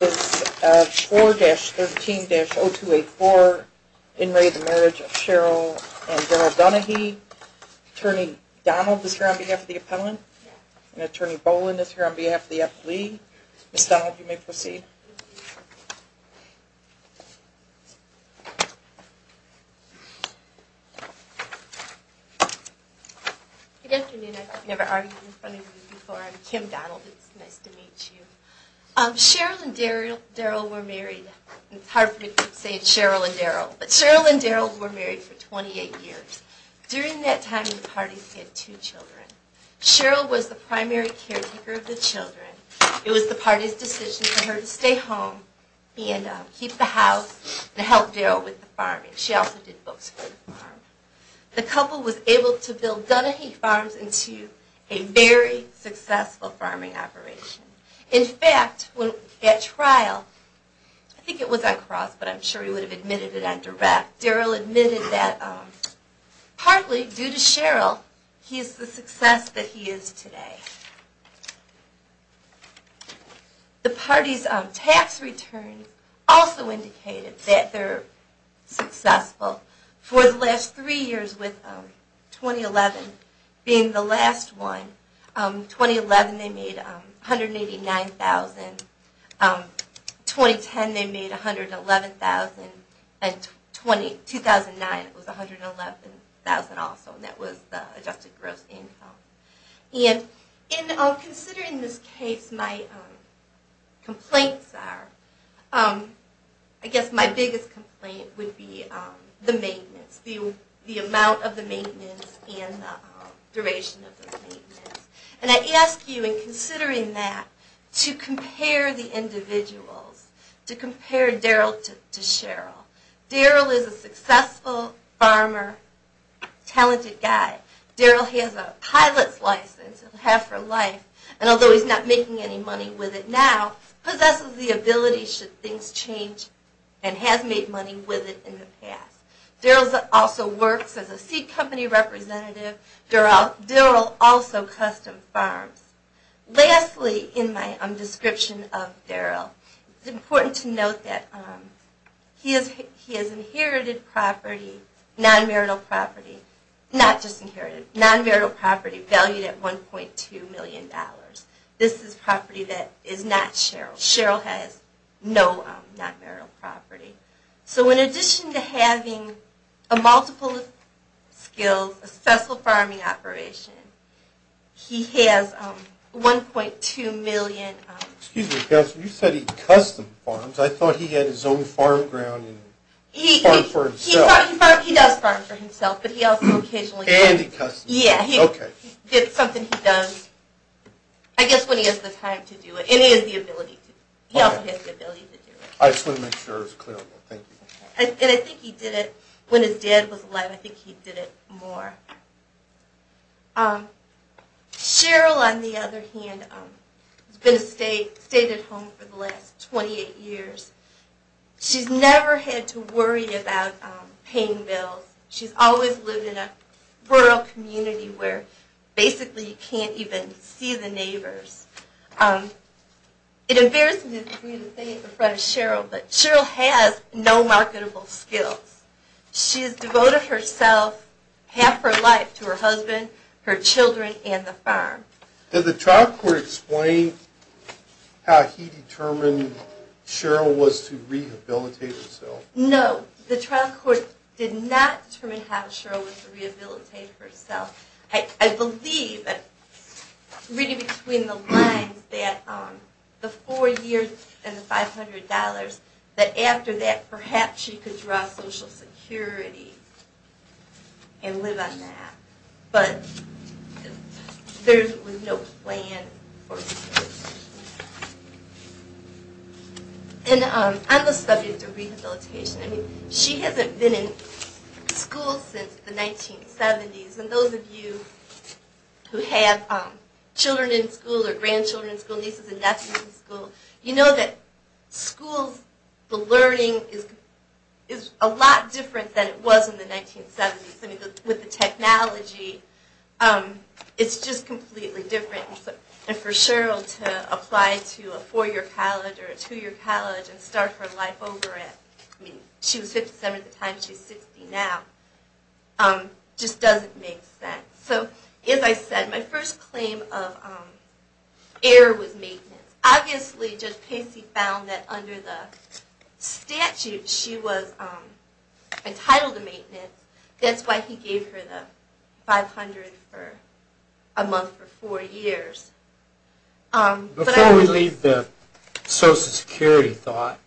This is 4-13-0284, in re the marriage of Cheryl and Daryl Dunahee. Attorney Donald is here on behalf of the appellant. And Attorney Boland is here on behalf of the appellee. Ms. Donald, you may proceed. Good afternoon. I've never argued in front of you before. I'm Kim Donald. It's nice to meet you. Cheryl and Daryl were married. It's hard for me to keep saying Cheryl and Daryl. But Cheryl and Daryl were married for 28 years. During that time, the parties had two children. Cheryl was the primary caretaker of the children. It was the party's decision for her to stay home and keep the house and help Daryl with the farming. She also did books for the farm. The couple was able to build Dunahee Farms into a very successful farming operation. In fact, at trial, I think it was on cross, but I'm sure he would have admitted it on direct, Daryl admitted that partly due to Cheryl, he is the success that he is today. The party's tax return also indicated that they're successful. For the last three years, with 2011 being the last one, 2011 they made $189,000. 2010 they made $111,000. And 2009 it was $111,000 also, and that was the adjusted gross income. And considering this case, my complaints are, I guess my biggest complaint would be the maintenance, the amount of the maintenance and the duration of the maintenance. And I ask you, in considering that, to compare the individuals, to compare Daryl to Cheryl. Daryl is a successful farmer, talented guy. Daryl has a pilot's license, a half her life, and although he's not making any money with it now, possesses the ability should things change, and has made money with it in the past. Daryl also works as a seed company representative. Daryl also custom farms. Lastly, in my description of Daryl, it's important to note that he has inherited property, non-marital property, not just inherited, non-marital property valued at $1.2 million. This is property that is not Cheryl's. Cheryl has no non-marital property. So in addition to having a multiple skills, a successful farming operation, he has $1.2 million. Excuse me, counselor, you said he custom farms. I thought he had his own farm ground and farmed for himself. He does farm for himself, but he also occasionally does. And he custom farms. Yeah. Okay. It's something he does, I guess, when he has the time to do it, and he has the ability to do it. He also has the ability to do it. I just want to make sure it's clear. And I think he did it, when his dad was alive, I think he did it more. Cheryl, on the other hand, has stayed at home for the last 28 years. She's never had to worry about paying bills. She's always lived in a rural community where basically you can't even see the neighbors. It embarrasses me to say it in front of Cheryl, but Cheryl has no marketable skills. She has devoted herself half her life to her husband, her children, and the farm. Did the trial court explain how he determined Cheryl was to rehabilitate herself? No. The trial court did not determine how Cheryl was to rehabilitate herself. I believe, reading between the lines, that the four years and the $500, that after that, perhaps she could draw Social Security and live on that. But there was no plan. On the subject of rehabilitation, she hasn't been in school since the 1970s. And those of you who have children in school or grandchildren in school, nieces and nephews in school, you know that school learning is a lot different than it was in the 1970s. With the technology, it's just completely different. And for Cheryl to apply to a four-year college or a two-year college and start her life over at, I mean, she was 57 at the time, she's 60 now, just doesn't make sense. So as I said, my first claim of error was maintenance. Obviously, Judge Pacey found that under the statute, she was entitled to maintenance. That's why he gave her the $500 for a month for four years. Before we leave the Social Security thought,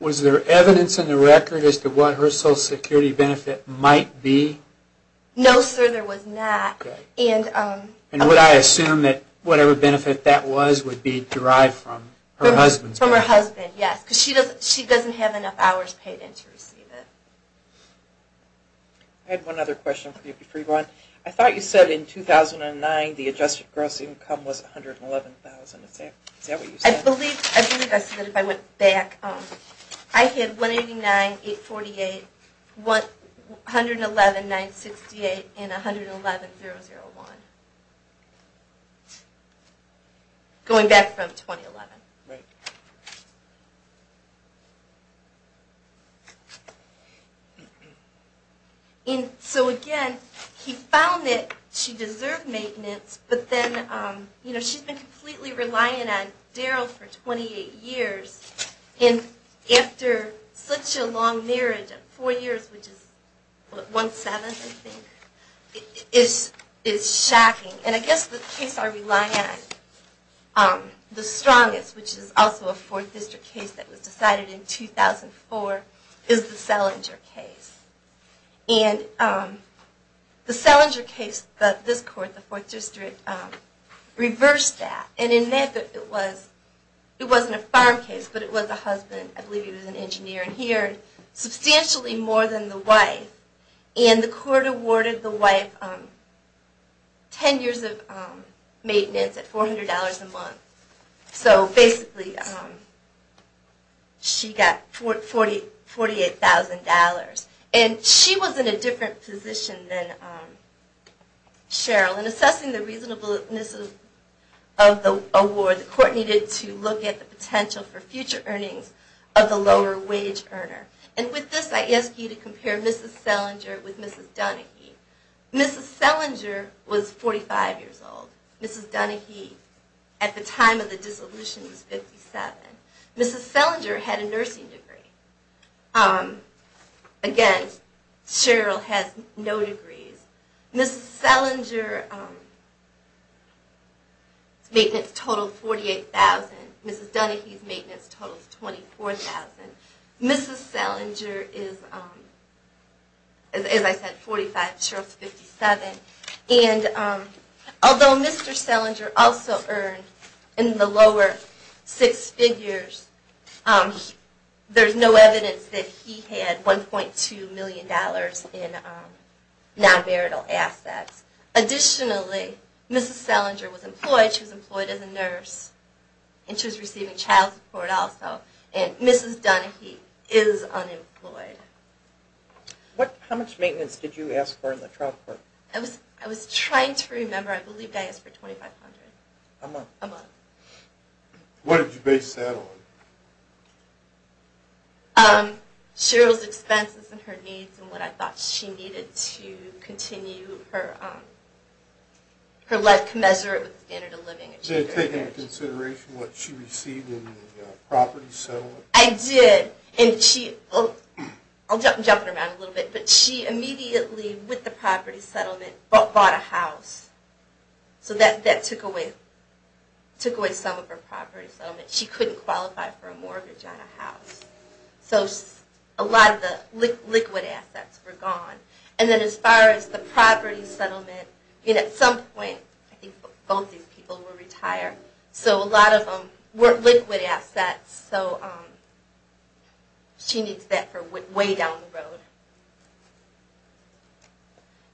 was there evidence in the record as to what her Social Security benefit might be? No, sir, there was not. And would I assume that whatever benefit that was would be derived from her husband's benefit? From her husband, yes, because she doesn't have enough hours paid in to receive it. I had one other question for you before you go on. I thought you said in 2009 the adjusted gross income was $111,000. Is that what you said? I believe I said that if I went back. I had $189,848, $111,968, and $111,001. Going back from 2011. Right. So again, he found that she deserved maintenance, but then she's been completely relying on Daryl for 28 years. And after such a long marriage of four years, which is one-seventh I think, it's shocking. And I guess the case I rely on the strongest, which is also a Fourth District case that was decided in 2004, is the Selinger case. And the Selinger case that this court, the Fourth District, reversed that. And in that, it wasn't a farm case, but it was a husband, I believe he was an engineer here, substantially more than the wife. And the court awarded the wife 10 years of maintenance at $400 a month. So basically she got $48,000. And she was in a different position than Cheryl. And assessing the reasonableness of the award, the court needed to look at the potential for future earnings of the lower-wage earner. And with this, I ask you to compare Mrs. Selinger with Mrs. Dunahee. Mrs. Selinger was 45 years old. Mrs. Dunahee, at the time of the dissolution, was 57. Mrs. Selinger had a nursing degree. Again, Cheryl has no degrees. Mrs. Selinger's maintenance total is $48,000. Mrs. Dunahee's maintenance total is $24,000. Mrs. Selinger is, as I said, 45. Cheryl is 57. And although Mr. Selinger also earned in the lower six figures, there's no evidence that he had $1.2 million in non-marital assets. Additionally, Mrs. Selinger was employed. She was employed as a nurse. And she was receiving child support also. And Mrs. Dunahee is unemployed. How much maintenance did you ask for in the trial court? I was trying to remember. A month. A month. What did you base that on? Cheryl's expenses and her needs and what I thought she needed to continue her life commensurate with standard of living. Did you take into consideration what she received in the property settlement? I did. And I'll jump in her mouth a little bit. But she immediately, with the property settlement, bought a house. So that took away some of her property settlement. She couldn't qualify for a mortgage on a house. So a lot of the liquid assets were gone. And then as far as the property settlement, at some point, I think both these people were retired, so a lot of them weren't liquid assets. So she needs that for way down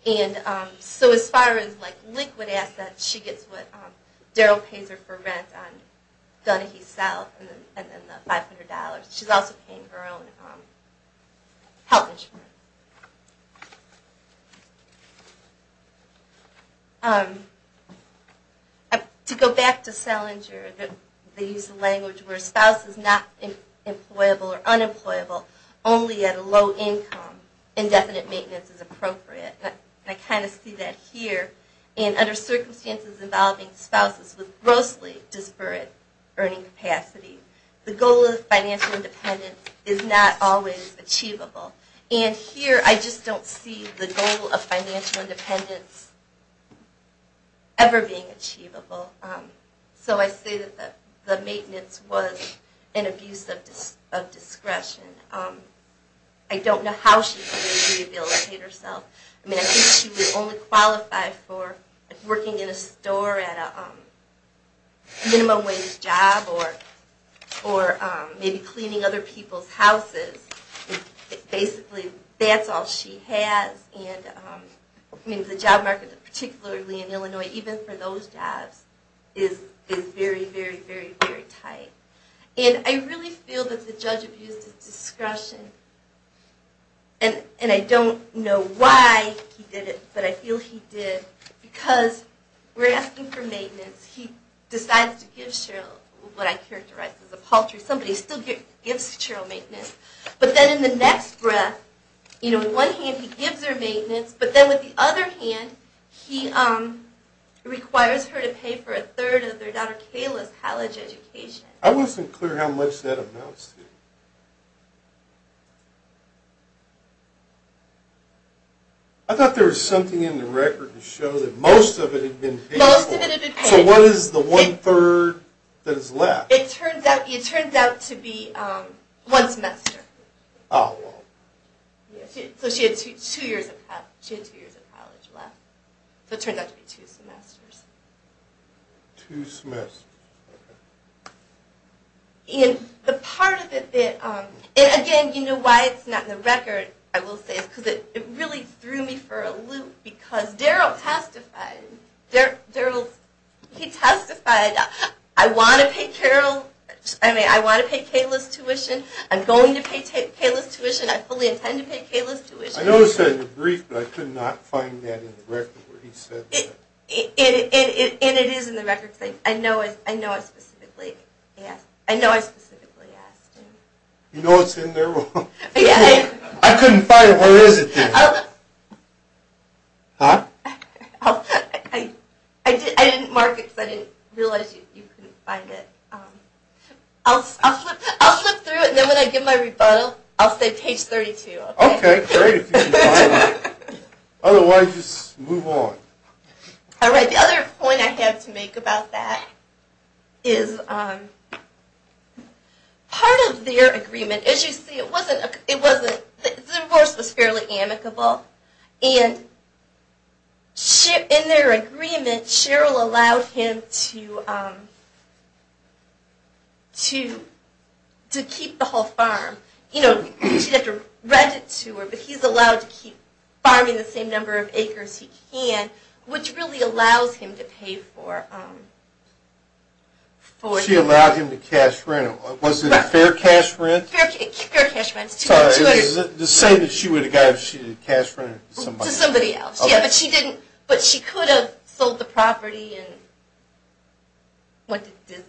the road. And so as far as liquid assets, she gets what Darryl pays her for rent on Dunahee South and then the $500. She's also paying her own health insurance. To go back to Selinger, they use the language where a spouse is not employable or unemployable, only at a low income. Indefinite maintenance is appropriate. And I kind of see that here. And under circumstances involving spouses with grossly disparate earning capacity, the goal of financial independence is not always achievable. And here, I just don't see the goal of financial independence ever being achievable. So I say that the maintenance was an abuse of discretion. I don't know how she's going to rehabilitate herself. I mean, I think she would only qualify for working in a store at a minimum wage job or maybe cleaning other people's houses. Basically, that's all she has. And the job market, particularly in Illinois, even for those jobs, is very, very, very, very tight. And I really feel that the judge abused his discretion. And I don't know why he did it, but I feel he did because we're asking for maintenance. He decides to give Cheryl what I characterize as a paltry. Somebody still gives Cheryl maintenance. But then in the next breath, in one hand, he gives her maintenance. But then with the other hand, he requires her to pay for a third of their daughter Kayla's college education. I wasn't clear how much that amounts to. I thought there was something in the record to show that most of it had been paid for. Most of it had been paid. So what is the one third that is left? It turns out to be one semester. Oh. So it turns out to be two semesters. Two semesters. And again, you know why it's not in the record, I will say, is because it really threw me for a loop. Because Darryl testified. He testified, I want to pay Kayla's tuition. I'm going to pay Kayla's tuition. I fully intend to pay Kayla's tuition. I noticed that in the brief, but I could not find that in the record where he said that. And it is in the record. I know I specifically asked. You know it's in there. I couldn't find it. Where is it then? I didn't mark it because I didn't realize you couldn't find it. I'll flip through it, and then when I give my rebuttal, I'll say page 32. OK. Great. Otherwise, move on. All right. The other point I have to make about that is part of their agreement, as you see, the divorce was fairly amicable. And in their agreement, Cheryl allowed him to keep the whole farm. She didn't have to rent it to her, but he's allowed to keep farming the same number of acres he can, which really allows him to pay for it. She allowed him to cash rent. Was it a fair cash rent? Fair cash rent. Sorry, was it the same that she would have got if she cashed rent to somebody else? To somebody else, yeah. But she could have sold the property.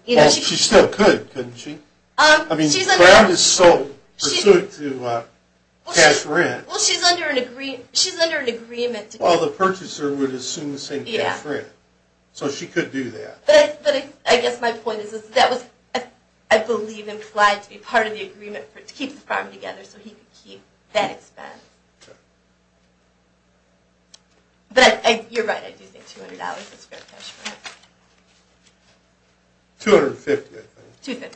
She still could, couldn't she? I mean, the ground is sold pursuant to cash rent. Well, she's under an agreement. Well, the purchaser would assume the same cash rent. So she could do that. But I guess my point is that was, I believe, implied to be part of the agreement to keep the farm together so he could keep that expense. But you're right, I do think $200 is fair cash rent. $250, I think. $250. $250.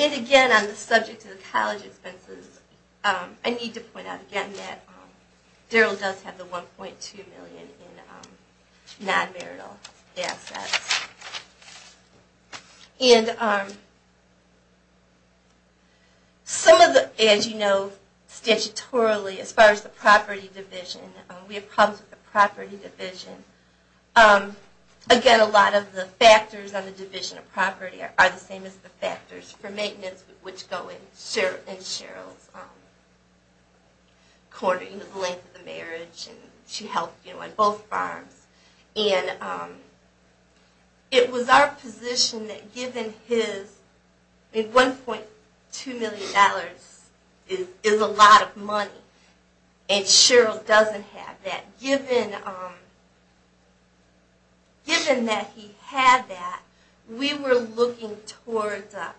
And again, on the subject of the college expenses, I need to point out again that Darryl does have the $1.2 million in non-marital assets. And some of the, as you know, statutorily, as far as the property division, we have problems with the property division. Again, a lot of the factors on the division of property are the same as the factors for maintenance, which go in Cheryl's corner, the length of the marriage. And she helped on both farms. And it was our position that given his $1.2 million is a lot of money, and Cheryl doesn't have that, given that he had that, we were looking towards a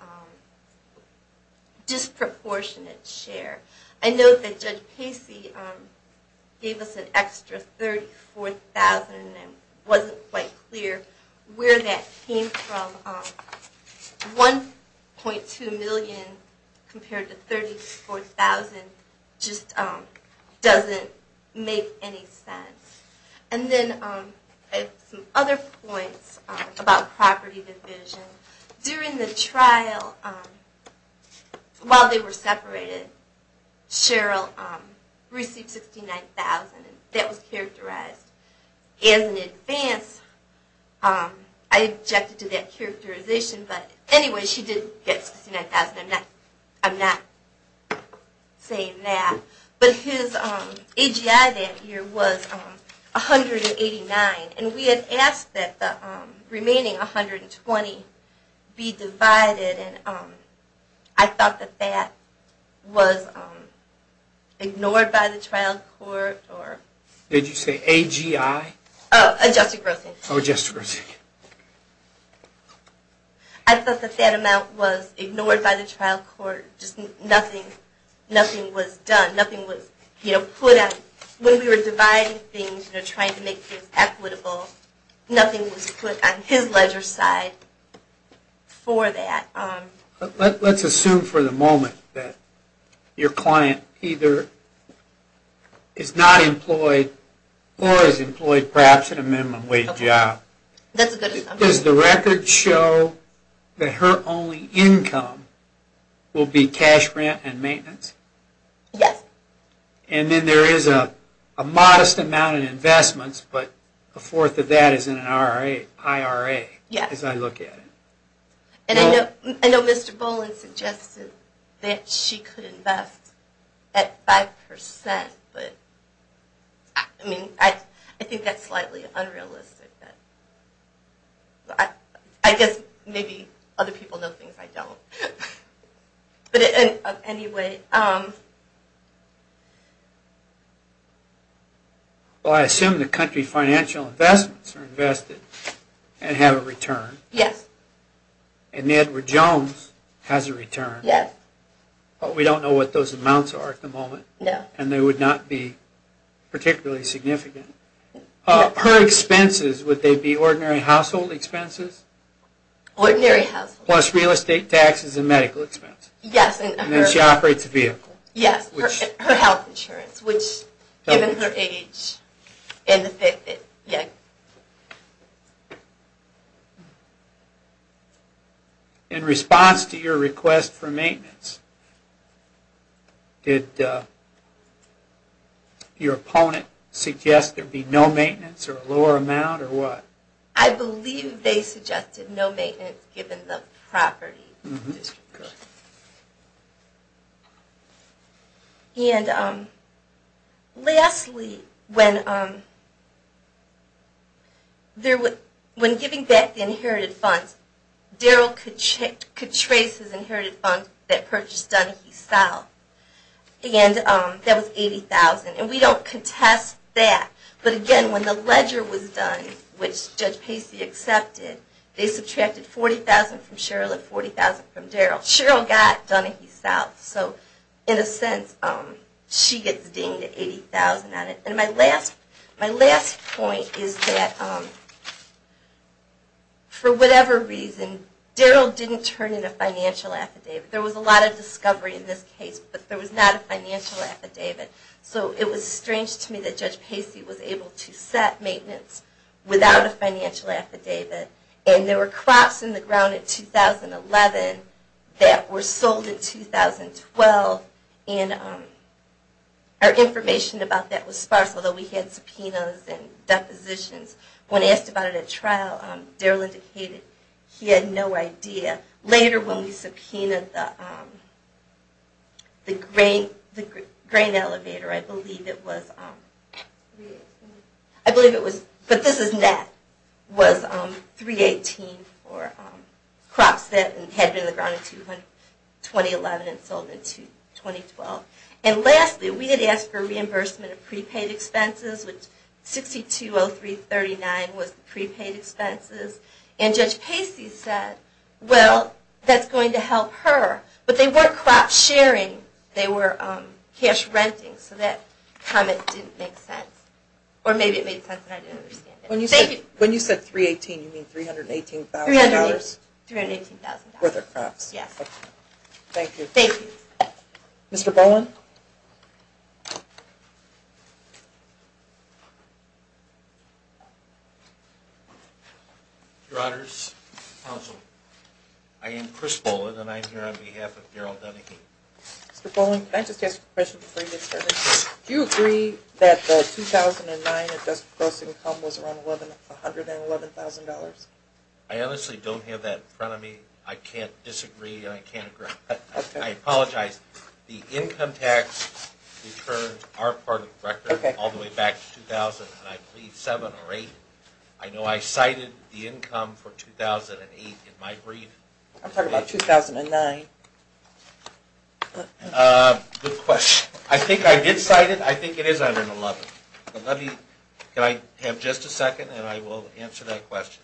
disproportionate share. I note that Judge Pacey gave us an extra $34,000 and it wasn't quite clear where that came from. $1.2 million compared to $34,000 just doesn't make any sense. And then some other points about property division. During the trial, while they were separated, Cheryl received $69,000. That was characterized as an advance. I objected to that characterization, but anyway, she did get $69,000. I'm not saying that. But his AGI that year was $189,000. And we had asked that the remaining $120,000 be divided. And I thought that that was ignored by the trial court. Did you say AGI? Adjusted grossing. Oh, adjusted grossing. I thought that that amount was ignored by the trial court. Just nothing was done. Nothing was put out. When we were dividing things and trying to make things equitable, nothing was put on his ledger side for that. Let's assume for the moment that your client either is not employed or is employed perhaps in a minimum wage job. Does the record show that her only income will be cash rent and maintenance? Yes. And then there is a modest amount of investments, but a fourth of that is in an IRA, as I look at it. I know Mr. Boland suggested that she could invest at 5%. I think that's slightly unrealistic. I guess maybe other people know things I don't. But anyway. Well, I assume the country financial investments are invested and have a return. Yes. And Edward Jones has a return. Yes. But we don't know what those amounts are at the moment. No. And they would not be particularly significant. Her expenses, would they be ordinary household expenses? Ordinary household. Plus real estate taxes and medical expenses. Yes. And then she operates a vehicle. Yes. Her health insurance, which given her age. In response to your request for maintenance, did your opponent suggest there be no maintenance or a lower amount or what? I believe they suggested no maintenance given the property. And lastly, when giving back the inherited funds, Daryl could trace his inherited funds that purchased done in the South. And that was $80,000. And we don't contest that. But again, when the ledger was done, which Judge Pacey accepted, they subtracted $40,000 from Cheryl and $40,000 from Daryl. Cheryl got done in the South. So in a sense, she gets dinged at $80,000 on it. And my last point is that for whatever reason, Daryl didn't turn in a financial affidavit. There was a lot of discovery in this case, but there was not a financial affidavit. So it was strange to me that Judge Pacey was able to set maintenance without a financial affidavit. And there were crops in the ground in 2011 that were sold in 2012. And our information about that was sparse, although we had subpoenas and depositions. When asked about it at trial, Daryl indicated he had no idea. Later, when we subpoenaed the grain elevator, I believe it was 318 for crops that had been in the ground in 2011 and sold in 2012. And lastly, we had asked for reimbursement of prepaid expenses, which 6203.39 was the prepaid expenses. And Judge Pacey said, well, that's going to help her. But they were crop sharing. They were cash renting. So that comment didn't make sense. Or maybe it made sense and I didn't understand it. When you said 318, you mean $318,000? $318,000. Worth of crops. Yes. Thank you. Thank you. Mr. Bowen? Your Honors, Counsel, I am Chris Bowen, and I'm here on behalf of Daryl Dunahee. Mr. Bowen, can I just ask a question before you get started? Do you agree that the 2009 adjusted gross income was around $111,000? I honestly don't have that in front of me. I can't disagree and I can't agree. I apologize. The income tax returns are part of the record all the way back to 2000, and I believe seven or eight. I know I cited the income for 2008 in my brief. I'm talking about 2009. Good question. I think I did cite it. I think it is $111,000. Can I have just a second and I will answer that question?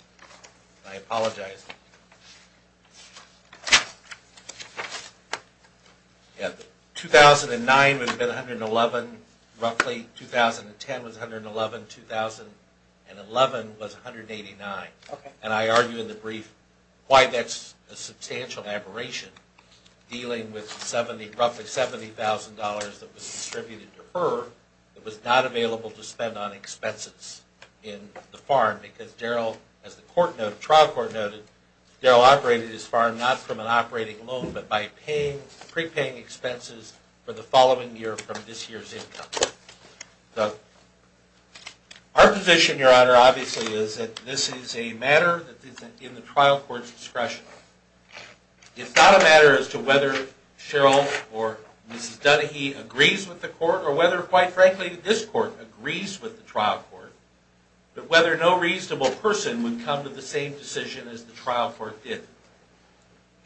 I apologize. 2009 would have been $111,000 roughly. 2010 was $111,000. 2011 was $189,000. And I argue in the brief why that's a substantial aberration dealing with roughly $70,000 that was distributed to her that was not available to spend on expenses in the farm because Daryl, as the trial court noted, Daryl operated his farm not from an operating loan but by prepaying expenses for the following year from this year's income. Our position, Your Honor, obviously, is that this is a matter that is in the trial court's discretion. It's not a matter as to whether Cheryl or Mrs. Dunahee agrees with the court or whether, quite frankly, this court agrees with the trial court, but whether no reasonable person would come to the same decision as the trial court did. The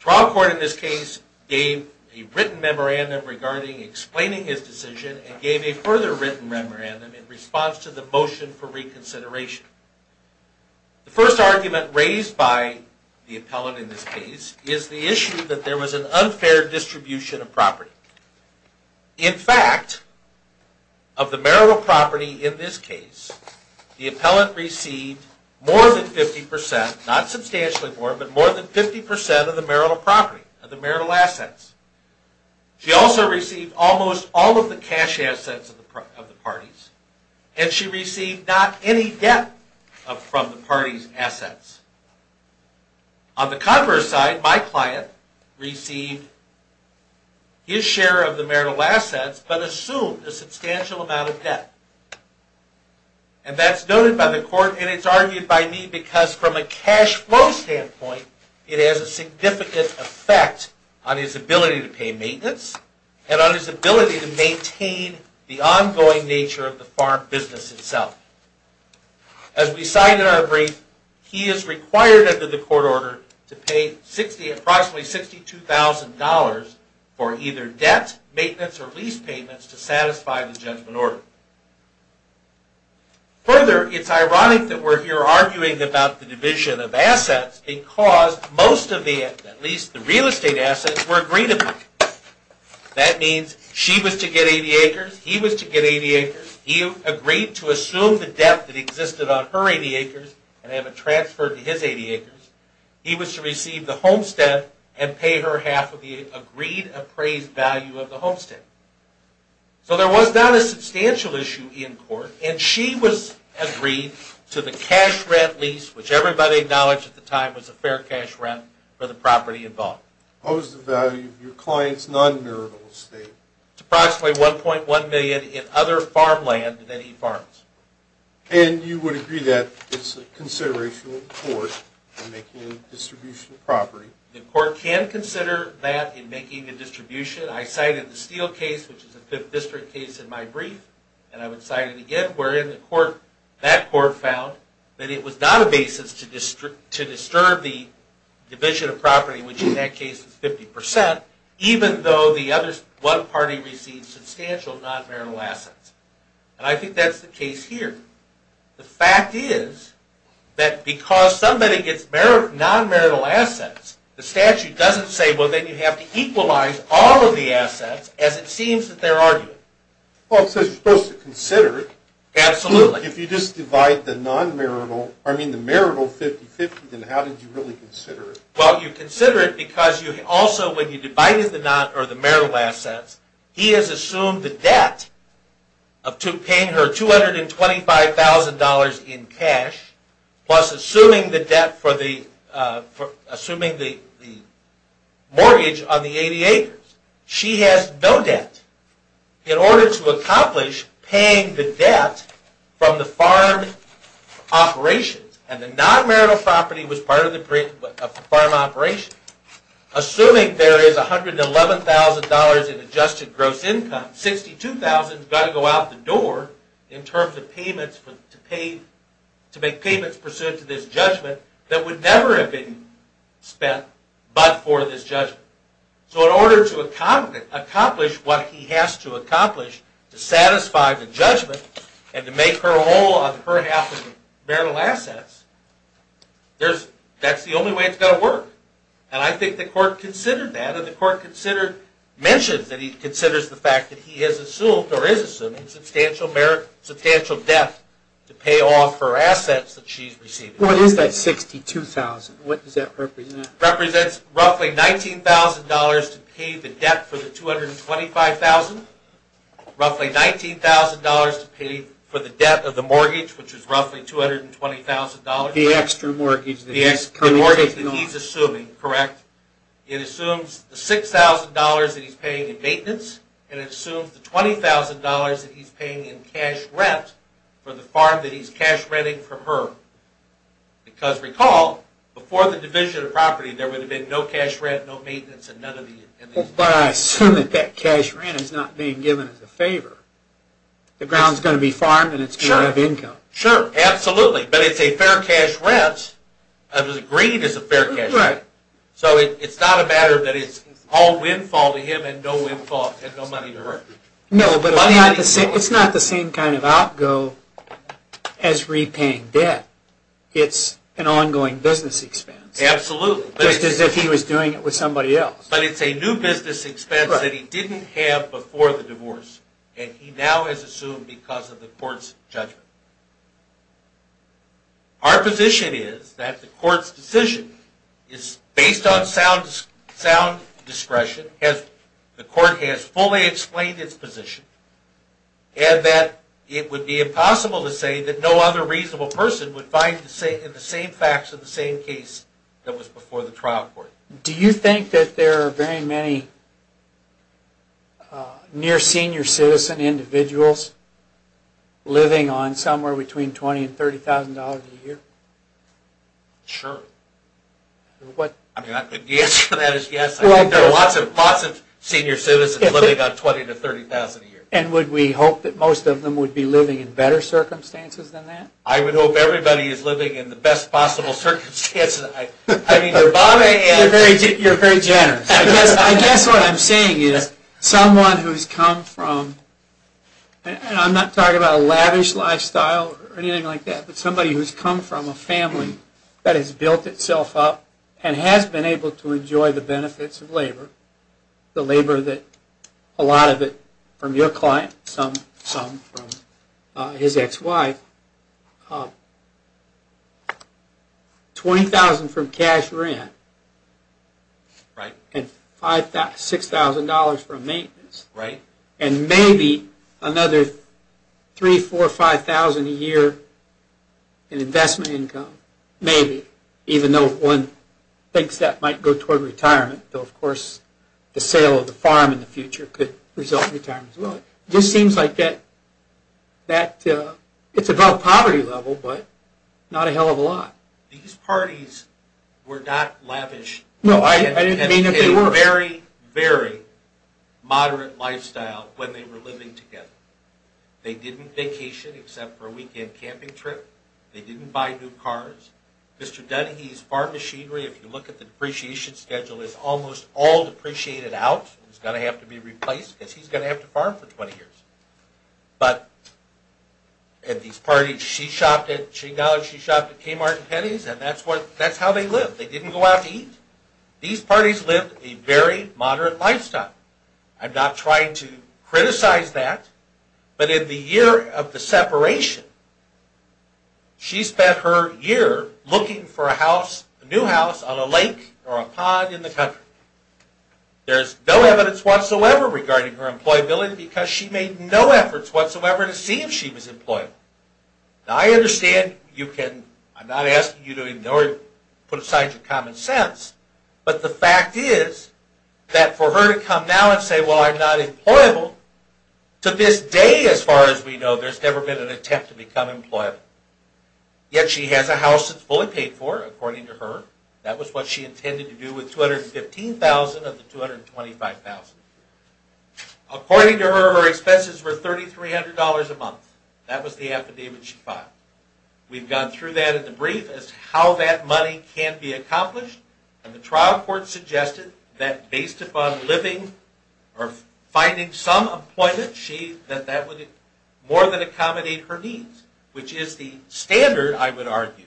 trial court in this case gave a written memorandum regarding explaining his decision and gave a further written memorandum in response to the motion for reconsideration. The first argument raised by the appellant in this case is the issue that there was an unfair distribution of property. In fact, of the marital property in this case, the appellant received more than 50%, not substantially more, but more than 50% of the marital property, of the marital assets. She also received almost all of the cash assets of the parties, and she received not any debt from the parties' assets. On the converse side, my client received his share of the marital assets but assumed a substantial amount of debt. And that's noted by the court, and it's argued by me because from a cash flow standpoint, it has a significant effect on his ability to pay maintenance and on his ability to maintain the ongoing nature of the farm business itself. As we cite in our brief, he is required under the court order to pay approximately $62,000 for either debt, maintenance, or lease payments to satisfy the judgment order. Further, it's ironic that we're here arguing about the division of assets because most of the, at least the real estate assets, were agreed upon. That means she was to get 80 acres, he was to get 80 acres, he agreed to assume the debt that existed on her 80 acres and have it transferred to his 80 acres, he was to receive the homestead and pay her half of the agreed appraised value of the homestead. So there was not a substantial issue in court, and she was agreed to the cash rent lease, which everybody acknowledged at the time was a fair cash rent for the property involved. What was the value of your client's non-marital estate? It's approximately $1.1 million in other farmland that he farms. And you would agree that it's a consideration of the court in making a distribution of property? The court can consider that in making a distribution. I cited the Steele case, which is a 5th district case in my brief, and I would cite it again, wherein that court found that it was not a basis to disturb the division of property, which in that case is 50%, even though the other one party received substantial non-marital assets. And I think that's the case here. The fact is that because somebody gets non-marital assets, the statute doesn't say, well, then you have to equalize all of the assets, as it seems that they're arguing. Well, it says you're supposed to consider it. Absolutely. If you just divide the non-marital, I mean the marital 50-50, then how did you really consider it? Well, you consider it because also when you divided the marital assets, he has assumed the debt of paying her $225,000 in cash, plus assuming the mortgage on the 80 acres. She has no debt. In order to accomplish paying the debt from the farm operations, and the non-marital property was part of the farm operations, assuming there is $111,000 in adjusted gross income, $62,000 has got to go out the door in terms of payments to make payments pursuant to this judgment that would never have been spent but for this judgment. So in order to accomplish what he has to accomplish to satisfy the judgment and to make her whole on her half of the marital assets, that's the only way it's going to work. And I think the court considered that, and the court mentioned that he considers the fact that he has assumed or is assuming substantial debt to pay off her assets that she's receiving. What is that $62,000? What does that represent? It represents roughly $19,000 to pay the debt for the $225,000, roughly $19,000 to pay for the debt of the mortgage, which is roughly $220,000. The extra mortgage that he's assuming. Correct. Correct. It assumes the $6,000 that he's paying in maintenance, and it assumes the $20,000 that he's paying in cash rent for the farm that he's cash renting from her. Because recall, before the division of property, there would have been no cash rent, no maintenance, and none of these. But I assume that that cash rent is not being given as a favor. The ground is going to be farmed, and it's going to have income. Sure. Absolutely. But it's a fair cash rent. The green is a fair cash rent. Right. So it's not a matter that it's all windfall to him and no money to her. No, but it's not the same kind of outgo as repaying debt. It's an ongoing business expense. Absolutely. Just as if he was doing it with somebody else. But it's a new business expense that he didn't have before the divorce, and he now has assumed because of the court's judgment. Our position is that the court's decision is based on sound discretion, as the court has fully explained its position, and that it would be impossible to say that no other reasonable person would find the same facts of the same case that was before the trial court. Do you think that there are very many near-senior citizen individuals living on somewhere between $20,000 and $30,000 a year? Sure. The answer to that is yes. There are lots of senior citizens living on $20,000 to $30,000 a year. And would we hope that most of them would be living in better circumstances than that? I would hope everybody is living in the best possible circumstances. You're very generous. I guess what I'm saying is someone who's come from, and I'm not talking about a lavish lifestyle or anything like that, but somebody who's come from a family that has built itself up and has been able to enjoy the benefits of labor, the labor that a lot of it from your client, some from his ex-wife, $20,000 from cash rent and $6,000 from maintenance, and maybe another $3,000, $4,000, $5,000 a year in investment income, maybe, even though one thinks that might go toward retirement. Of course, the sale of the farm in the future could result in retirement as well. It just seems like it's above poverty level, but not a hell of a lot. These parties were not lavish. No, I didn't mean that they were. They had a very, very moderate lifestyle when they were living together. They didn't vacation except for a weekend camping trip. They didn't buy new cars. Mr. Dunn, he's farmed machinery. If you look at the depreciation schedule, it's almost all depreciated out. He's going to have to be replaced because he's going to have to farm for 20 years. But at these parties, she shopped at, she knows she shopped at Kmart and Penny's, and that's how they lived. They didn't go out to eat. These parties lived a very moderate lifestyle. I'm not trying to criticize that, but in the year of the separation, she spent her year looking for a house, a new house on a lake or a pond in the country. There's no evidence whatsoever regarding her employability because she made no efforts whatsoever to see if she was employable. Now, I understand you can, I'm not asking you to ignore, put aside your common sense, but the fact is that for her to come now and say, well, I'm not employable, to this day, as far as we know, there's never been an attempt to become employable. Yet she has a house that's fully paid for, according to her. That was what she intended to do with $215,000 of the $225,000. According to her, her expenses were $3,300 a month. That was the affidavit she filed. We've gone through that in the brief as to how that money can be accomplished, and the trial court suggested that based upon living or finding some employment, that that would more than accommodate her needs, which is the standard, I would argue,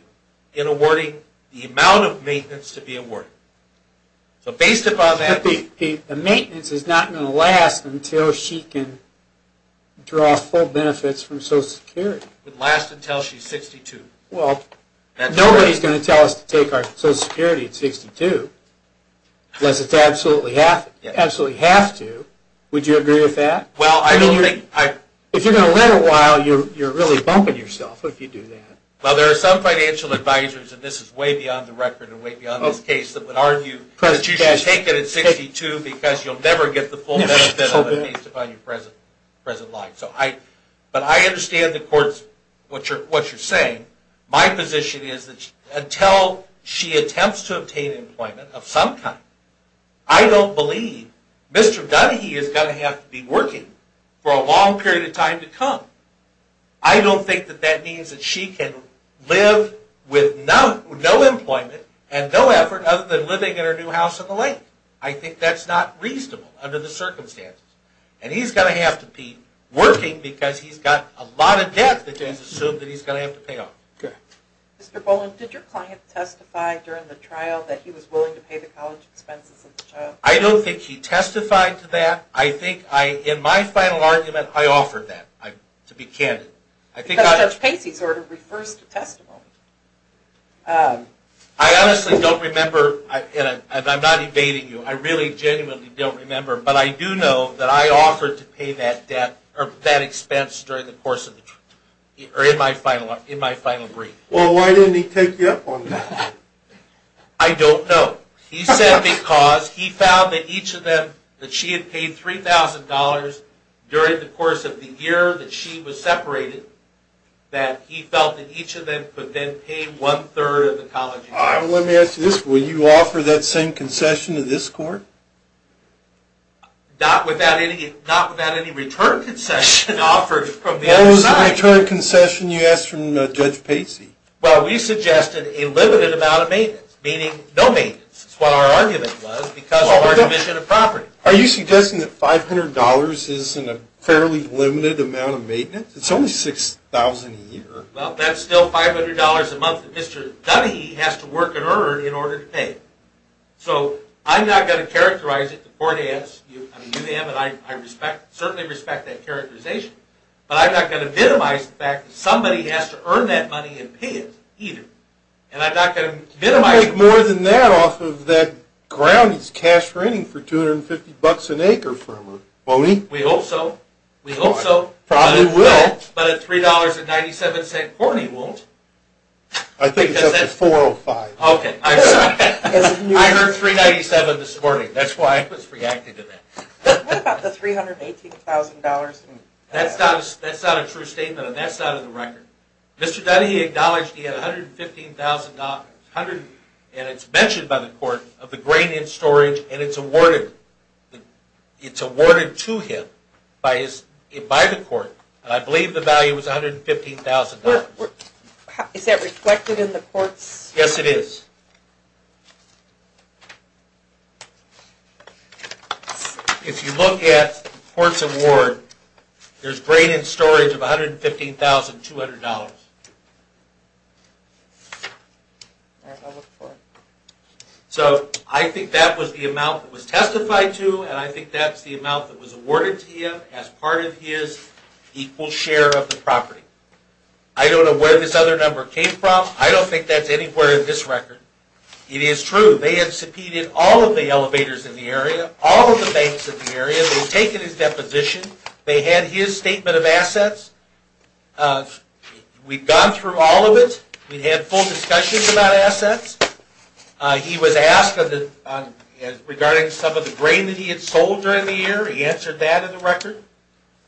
in awarding the amount of maintenance to be awarded. So based upon that... The maintenance is not going to last until she can draw full benefits from Social Security. It would last until she's 62. Well, nobody's going to tell us to take our Social Security at 62 unless it's absolutely have to. Would you agree with that? Well, I don't think... If you're going to live a while, you're really bumping yourself if you do that. Well, there are some financial advisors, and this is way beyond the record and way beyond this case, that would argue that you should take it at 62 because you'll never get the full benefit of it based upon your present life. But I understand the court's, what you're saying. My position is that until she attempts to obtain employment of some kind, I don't believe Mr. Dunhee is going to have to be working for a long period of time to come. I don't think that that means that she can live with no employment and no effort other than living in her new house on the lake. I think that's not reasonable under the circumstances. And he's going to have to be working because he's got a lot of debt that is assumed that he's going to have to pay off. Mr. Boland, did your client testify during the trial that he was willing to pay the college expenses of the child? I don't think he testified to that. I think in my final argument, I offered that, to be candid. Because Judge Pacey's order refers to testimony. I honestly don't remember, and I'm not evading you, I really genuinely don't remember, but I do know that I offered to pay that debt, or that expense, during the course of the trial, or in my final brief. Well, why didn't he take you up on that? I don't know. He said because he found that each of them, that she had paid $3,000 during the course of the year that she was separated, that he felt that each of them could then pay one-third of the college expenses. Let me ask you this, will you offer that same concession to this court? Not without any return concession offered from the other side. What was the return concession you asked from Judge Pacey? Well, we suggested a limited amount of maintenance, meaning no maintenance. That's what our argument was, because of our commission of property. Are you suggesting that $500 isn't a fairly limited amount of maintenance? It's only $6,000 a year. Well, that's still $500 a month that Mr. Dunne has to work and earn in order to pay. So, I'm not going to characterize it, the court adds, I mean you have and I certainly respect that characterization, but I'm not going to minimize the fact that somebody has to earn that money and pay it, either. And I'm not going to minimize it. He'll make more than that off of that ground he's cash-renting for $250 an acre from her, won't he? We hope so. We hope so. Probably will. But at $3.97 a quart, he won't. I think it's up to $4.05. Okay. I heard $3.97 this morning. That's why I was reacting to that. What about the $318,000? That's not a true statement, and that's not in the record. Mr. Dunne, he acknowledged he had $115,000, and it's mentioned by the court, of the grain in storage, and it's awarded to him by the court, and I believe the value was $115,000. Is that reflected in the court's? Yes, it is. If you look at the court's award, there's grain in storage of $115,200. All right, I'll look for it. So I think that was the amount that was testified to, and I think that's the amount that was awarded to him as part of his equal share of the property. I don't know where this other number came from. I don't think that's anywhere in this record. It is true. They have subpoenaed all of the elevators in the area, all of the banks in the area. They've taken his deposition. They had his statement of assets. We've gone through all of it. We've had full discussions about assets. He was asked regarding some of the grain that he had sold during the year. He answered that in the record.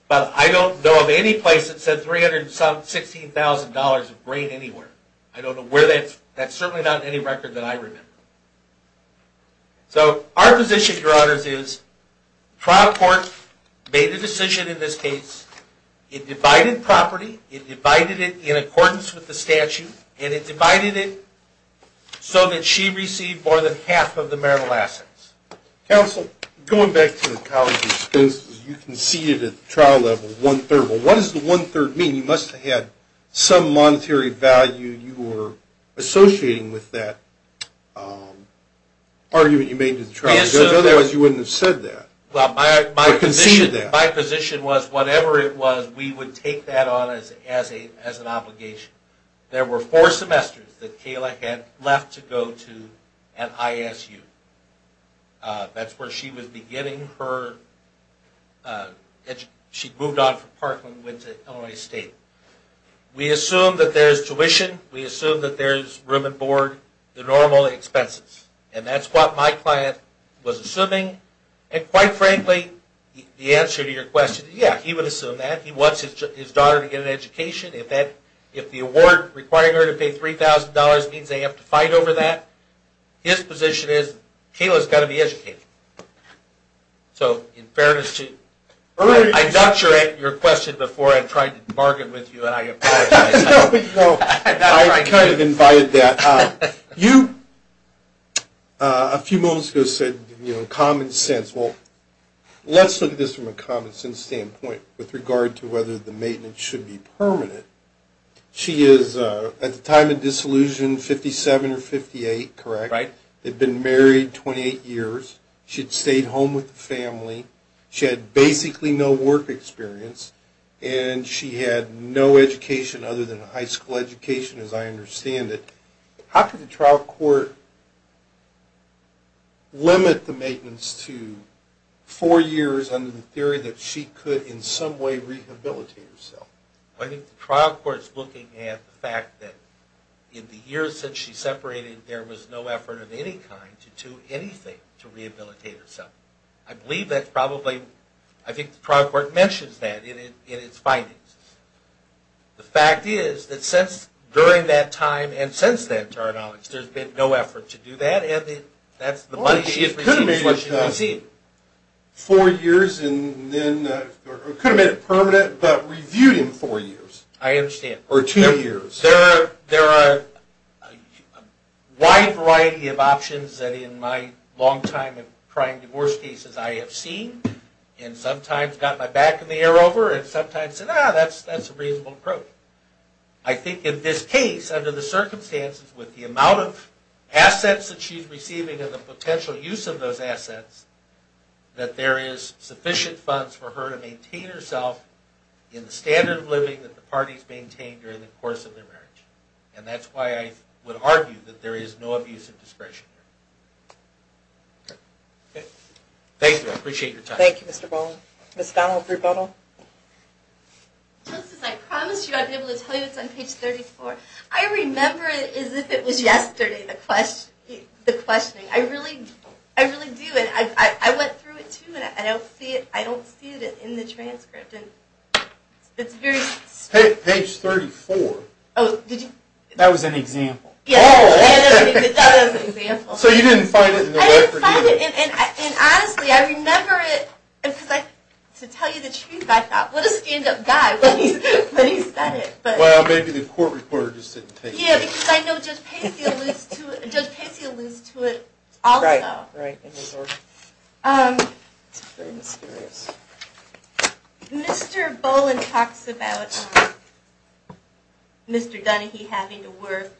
But I don't know of any place that said $316,000 of grain anywhere. I don't know where that is. That's certainly not in any record that I remember. So our position, Your Honors, is trial court made a decision in this case. It divided property. It divided it in accordance with the statute, and it divided it so that she received more than half of the marital assets. Counsel, going back to the college expenses, you conceded at the trial level one-third. Well, what does the one-third mean? You must have had some monetary value you were associating with that argument you made to the trial judge. Otherwise, you wouldn't have said that or conceded that. My position was whatever it was, we would take that on as an obligation. There were four semesters that Kayla had left to go to an ISU. That's where she was beginning her education. She moved on from Parkland and went to Illinois State. We assume that there's tuition. We assume that there's room and board, the normal expenses. And that's what my client was assuming. And quite frankly, the answer to your question, yeah, he would assume that. He wants his daughter to get an education. If the award requiring her to pay $3,000 means they have to fight over that, his position is Kayla's got to be educated. So in fairness to you, I ducked your question before I tried to bargain with you and I apologize. No, I kind of invited that. You, a few moments ago, said common sense. Well, let's look at this from a common sense standpoint with regard to whether the maintenance should be permanent. She is, at the time of disillusion, 57 or 58, correct? Right. They'd been married 28 years. She'd stayed home with the family. She had basically no work experience. And she had no education other than a high school education, as I understand it. How could the trial court limit the maintenance to four years under the theory that she could in some way rehabilitate herself? Well, I think the trial court is looking at the fact that in the years since she separated, there was no effort of any kind to do anything to rehabilitate herself. I believe that's probably – I think the trial court mentions that in its findings. The fact is that since – during that time and since then, to our knowledge, there's been no effort to do that, and that's the money she has received is what she has received. Four years and then – it could have been permanent, but reviewed in four years. I understand. Or two years. There are a wide variety of options that in my long time of trying divorce cases I have seen and sometimes got my back in the air over and sometimes said, ah, that's a reasonable approach. I think in this case, under the circumstances with the amount of assets that she's receiving and the potential use of those assets, that there is sufficient funds for her to maintain herself in the standard of living that the parties maintain during the course of their marriage. And that's why I would argue that there is no abuse of discretion here. Okay. Thank you. I appreciate your time. Thank you, Mr. Bowen. Ms. Donnell, if we could follow up. Justice, I promised you I'd be able to tell you it's on page 34. I remember it as if it was yesterday, the questioning. I really do. And I went through it, too, and I don't see it in the transcript. And it's very – Page 34. Oh, did you – That was an example. Yes. Oh, okay. That was an example. So you didn't find it in the record, either. I didn't find it. And honestly, I remember it because I – to tell you the truth, I thought, what a stand-up guy when he said it. Well, maybe the court reporter just didn't take it. Yeah, because I know Judge Pacey alludes to it also. Right. Right. It's very mysterious. Mr. Bowen talks about Mr. Dunnehy having to work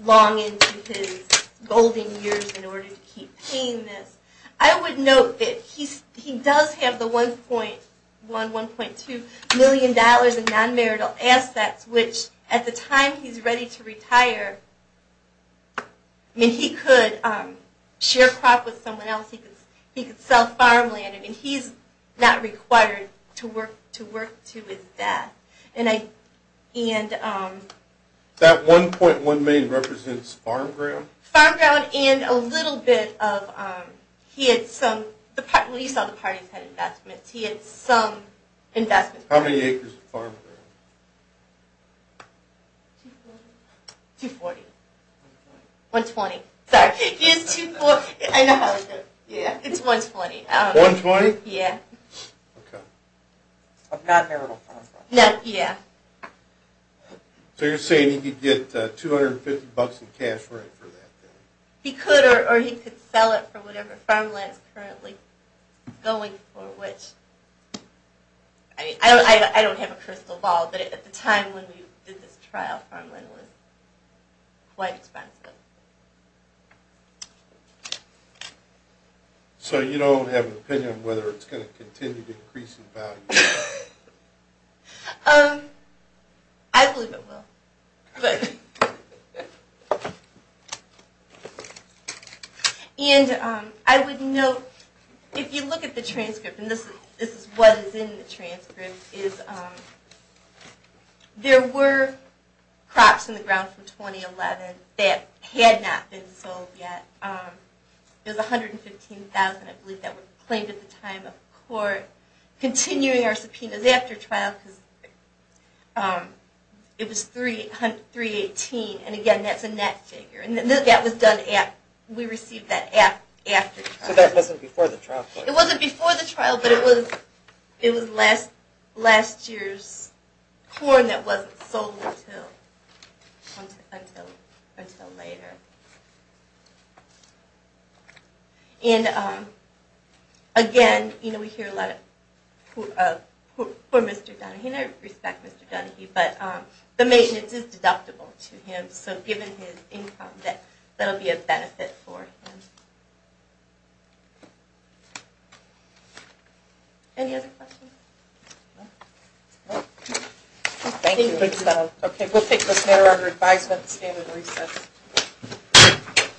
long into his golden years in order to keep paying this. I would note that he does have the $1.1, $1.2 million in non-marital assets, which at the time he's ready to retire, I mean, he could share crop with someone else. He could sell farmland, and he's not required to work to his death. That $1.1 million represents farm ground? Farm ground and a little bit of – he had some – well, you saw the parties had investments. He had some investments. How many acres of farm ground? 240. 120. 120. Sorry. He has 240. I know. Yeah. It's 120. 120? Yeah. Okay. Of non-marital farm land. Yeah. So you're saying he could get $250 in cash for it for that? He could, or he could sell it for whatever farm land is currently going for, which – I don't have a crystal ball, but at the time when we did this trial, farm land was quite expensive. So you don't have an opinion on whether it's going to continue to increase in value? I believe it will. And I would note, if you look at the transcript, and this is what is in the transcript, is there were crops in the ground from 2011 that had not been sold yet. It was 115,000, I believe, that were claimed at the time of court. Continuing our subpoenas after trial, because it was 318, and again, that's a net figure. And that was done – we received that after trial. So that wasn't before the trial? It wasn't before the trial, but it was last year's corn that wasn't sold until later. And again, we hear a lot of poor Mr. Donaghy, and I respect Mr. Donaghy, but the maintenance is deductible to him, so given his income, that will be a benefit for him. Any other questions? Thank you. We'll take this matter under advisement and stand at recess. Thank you.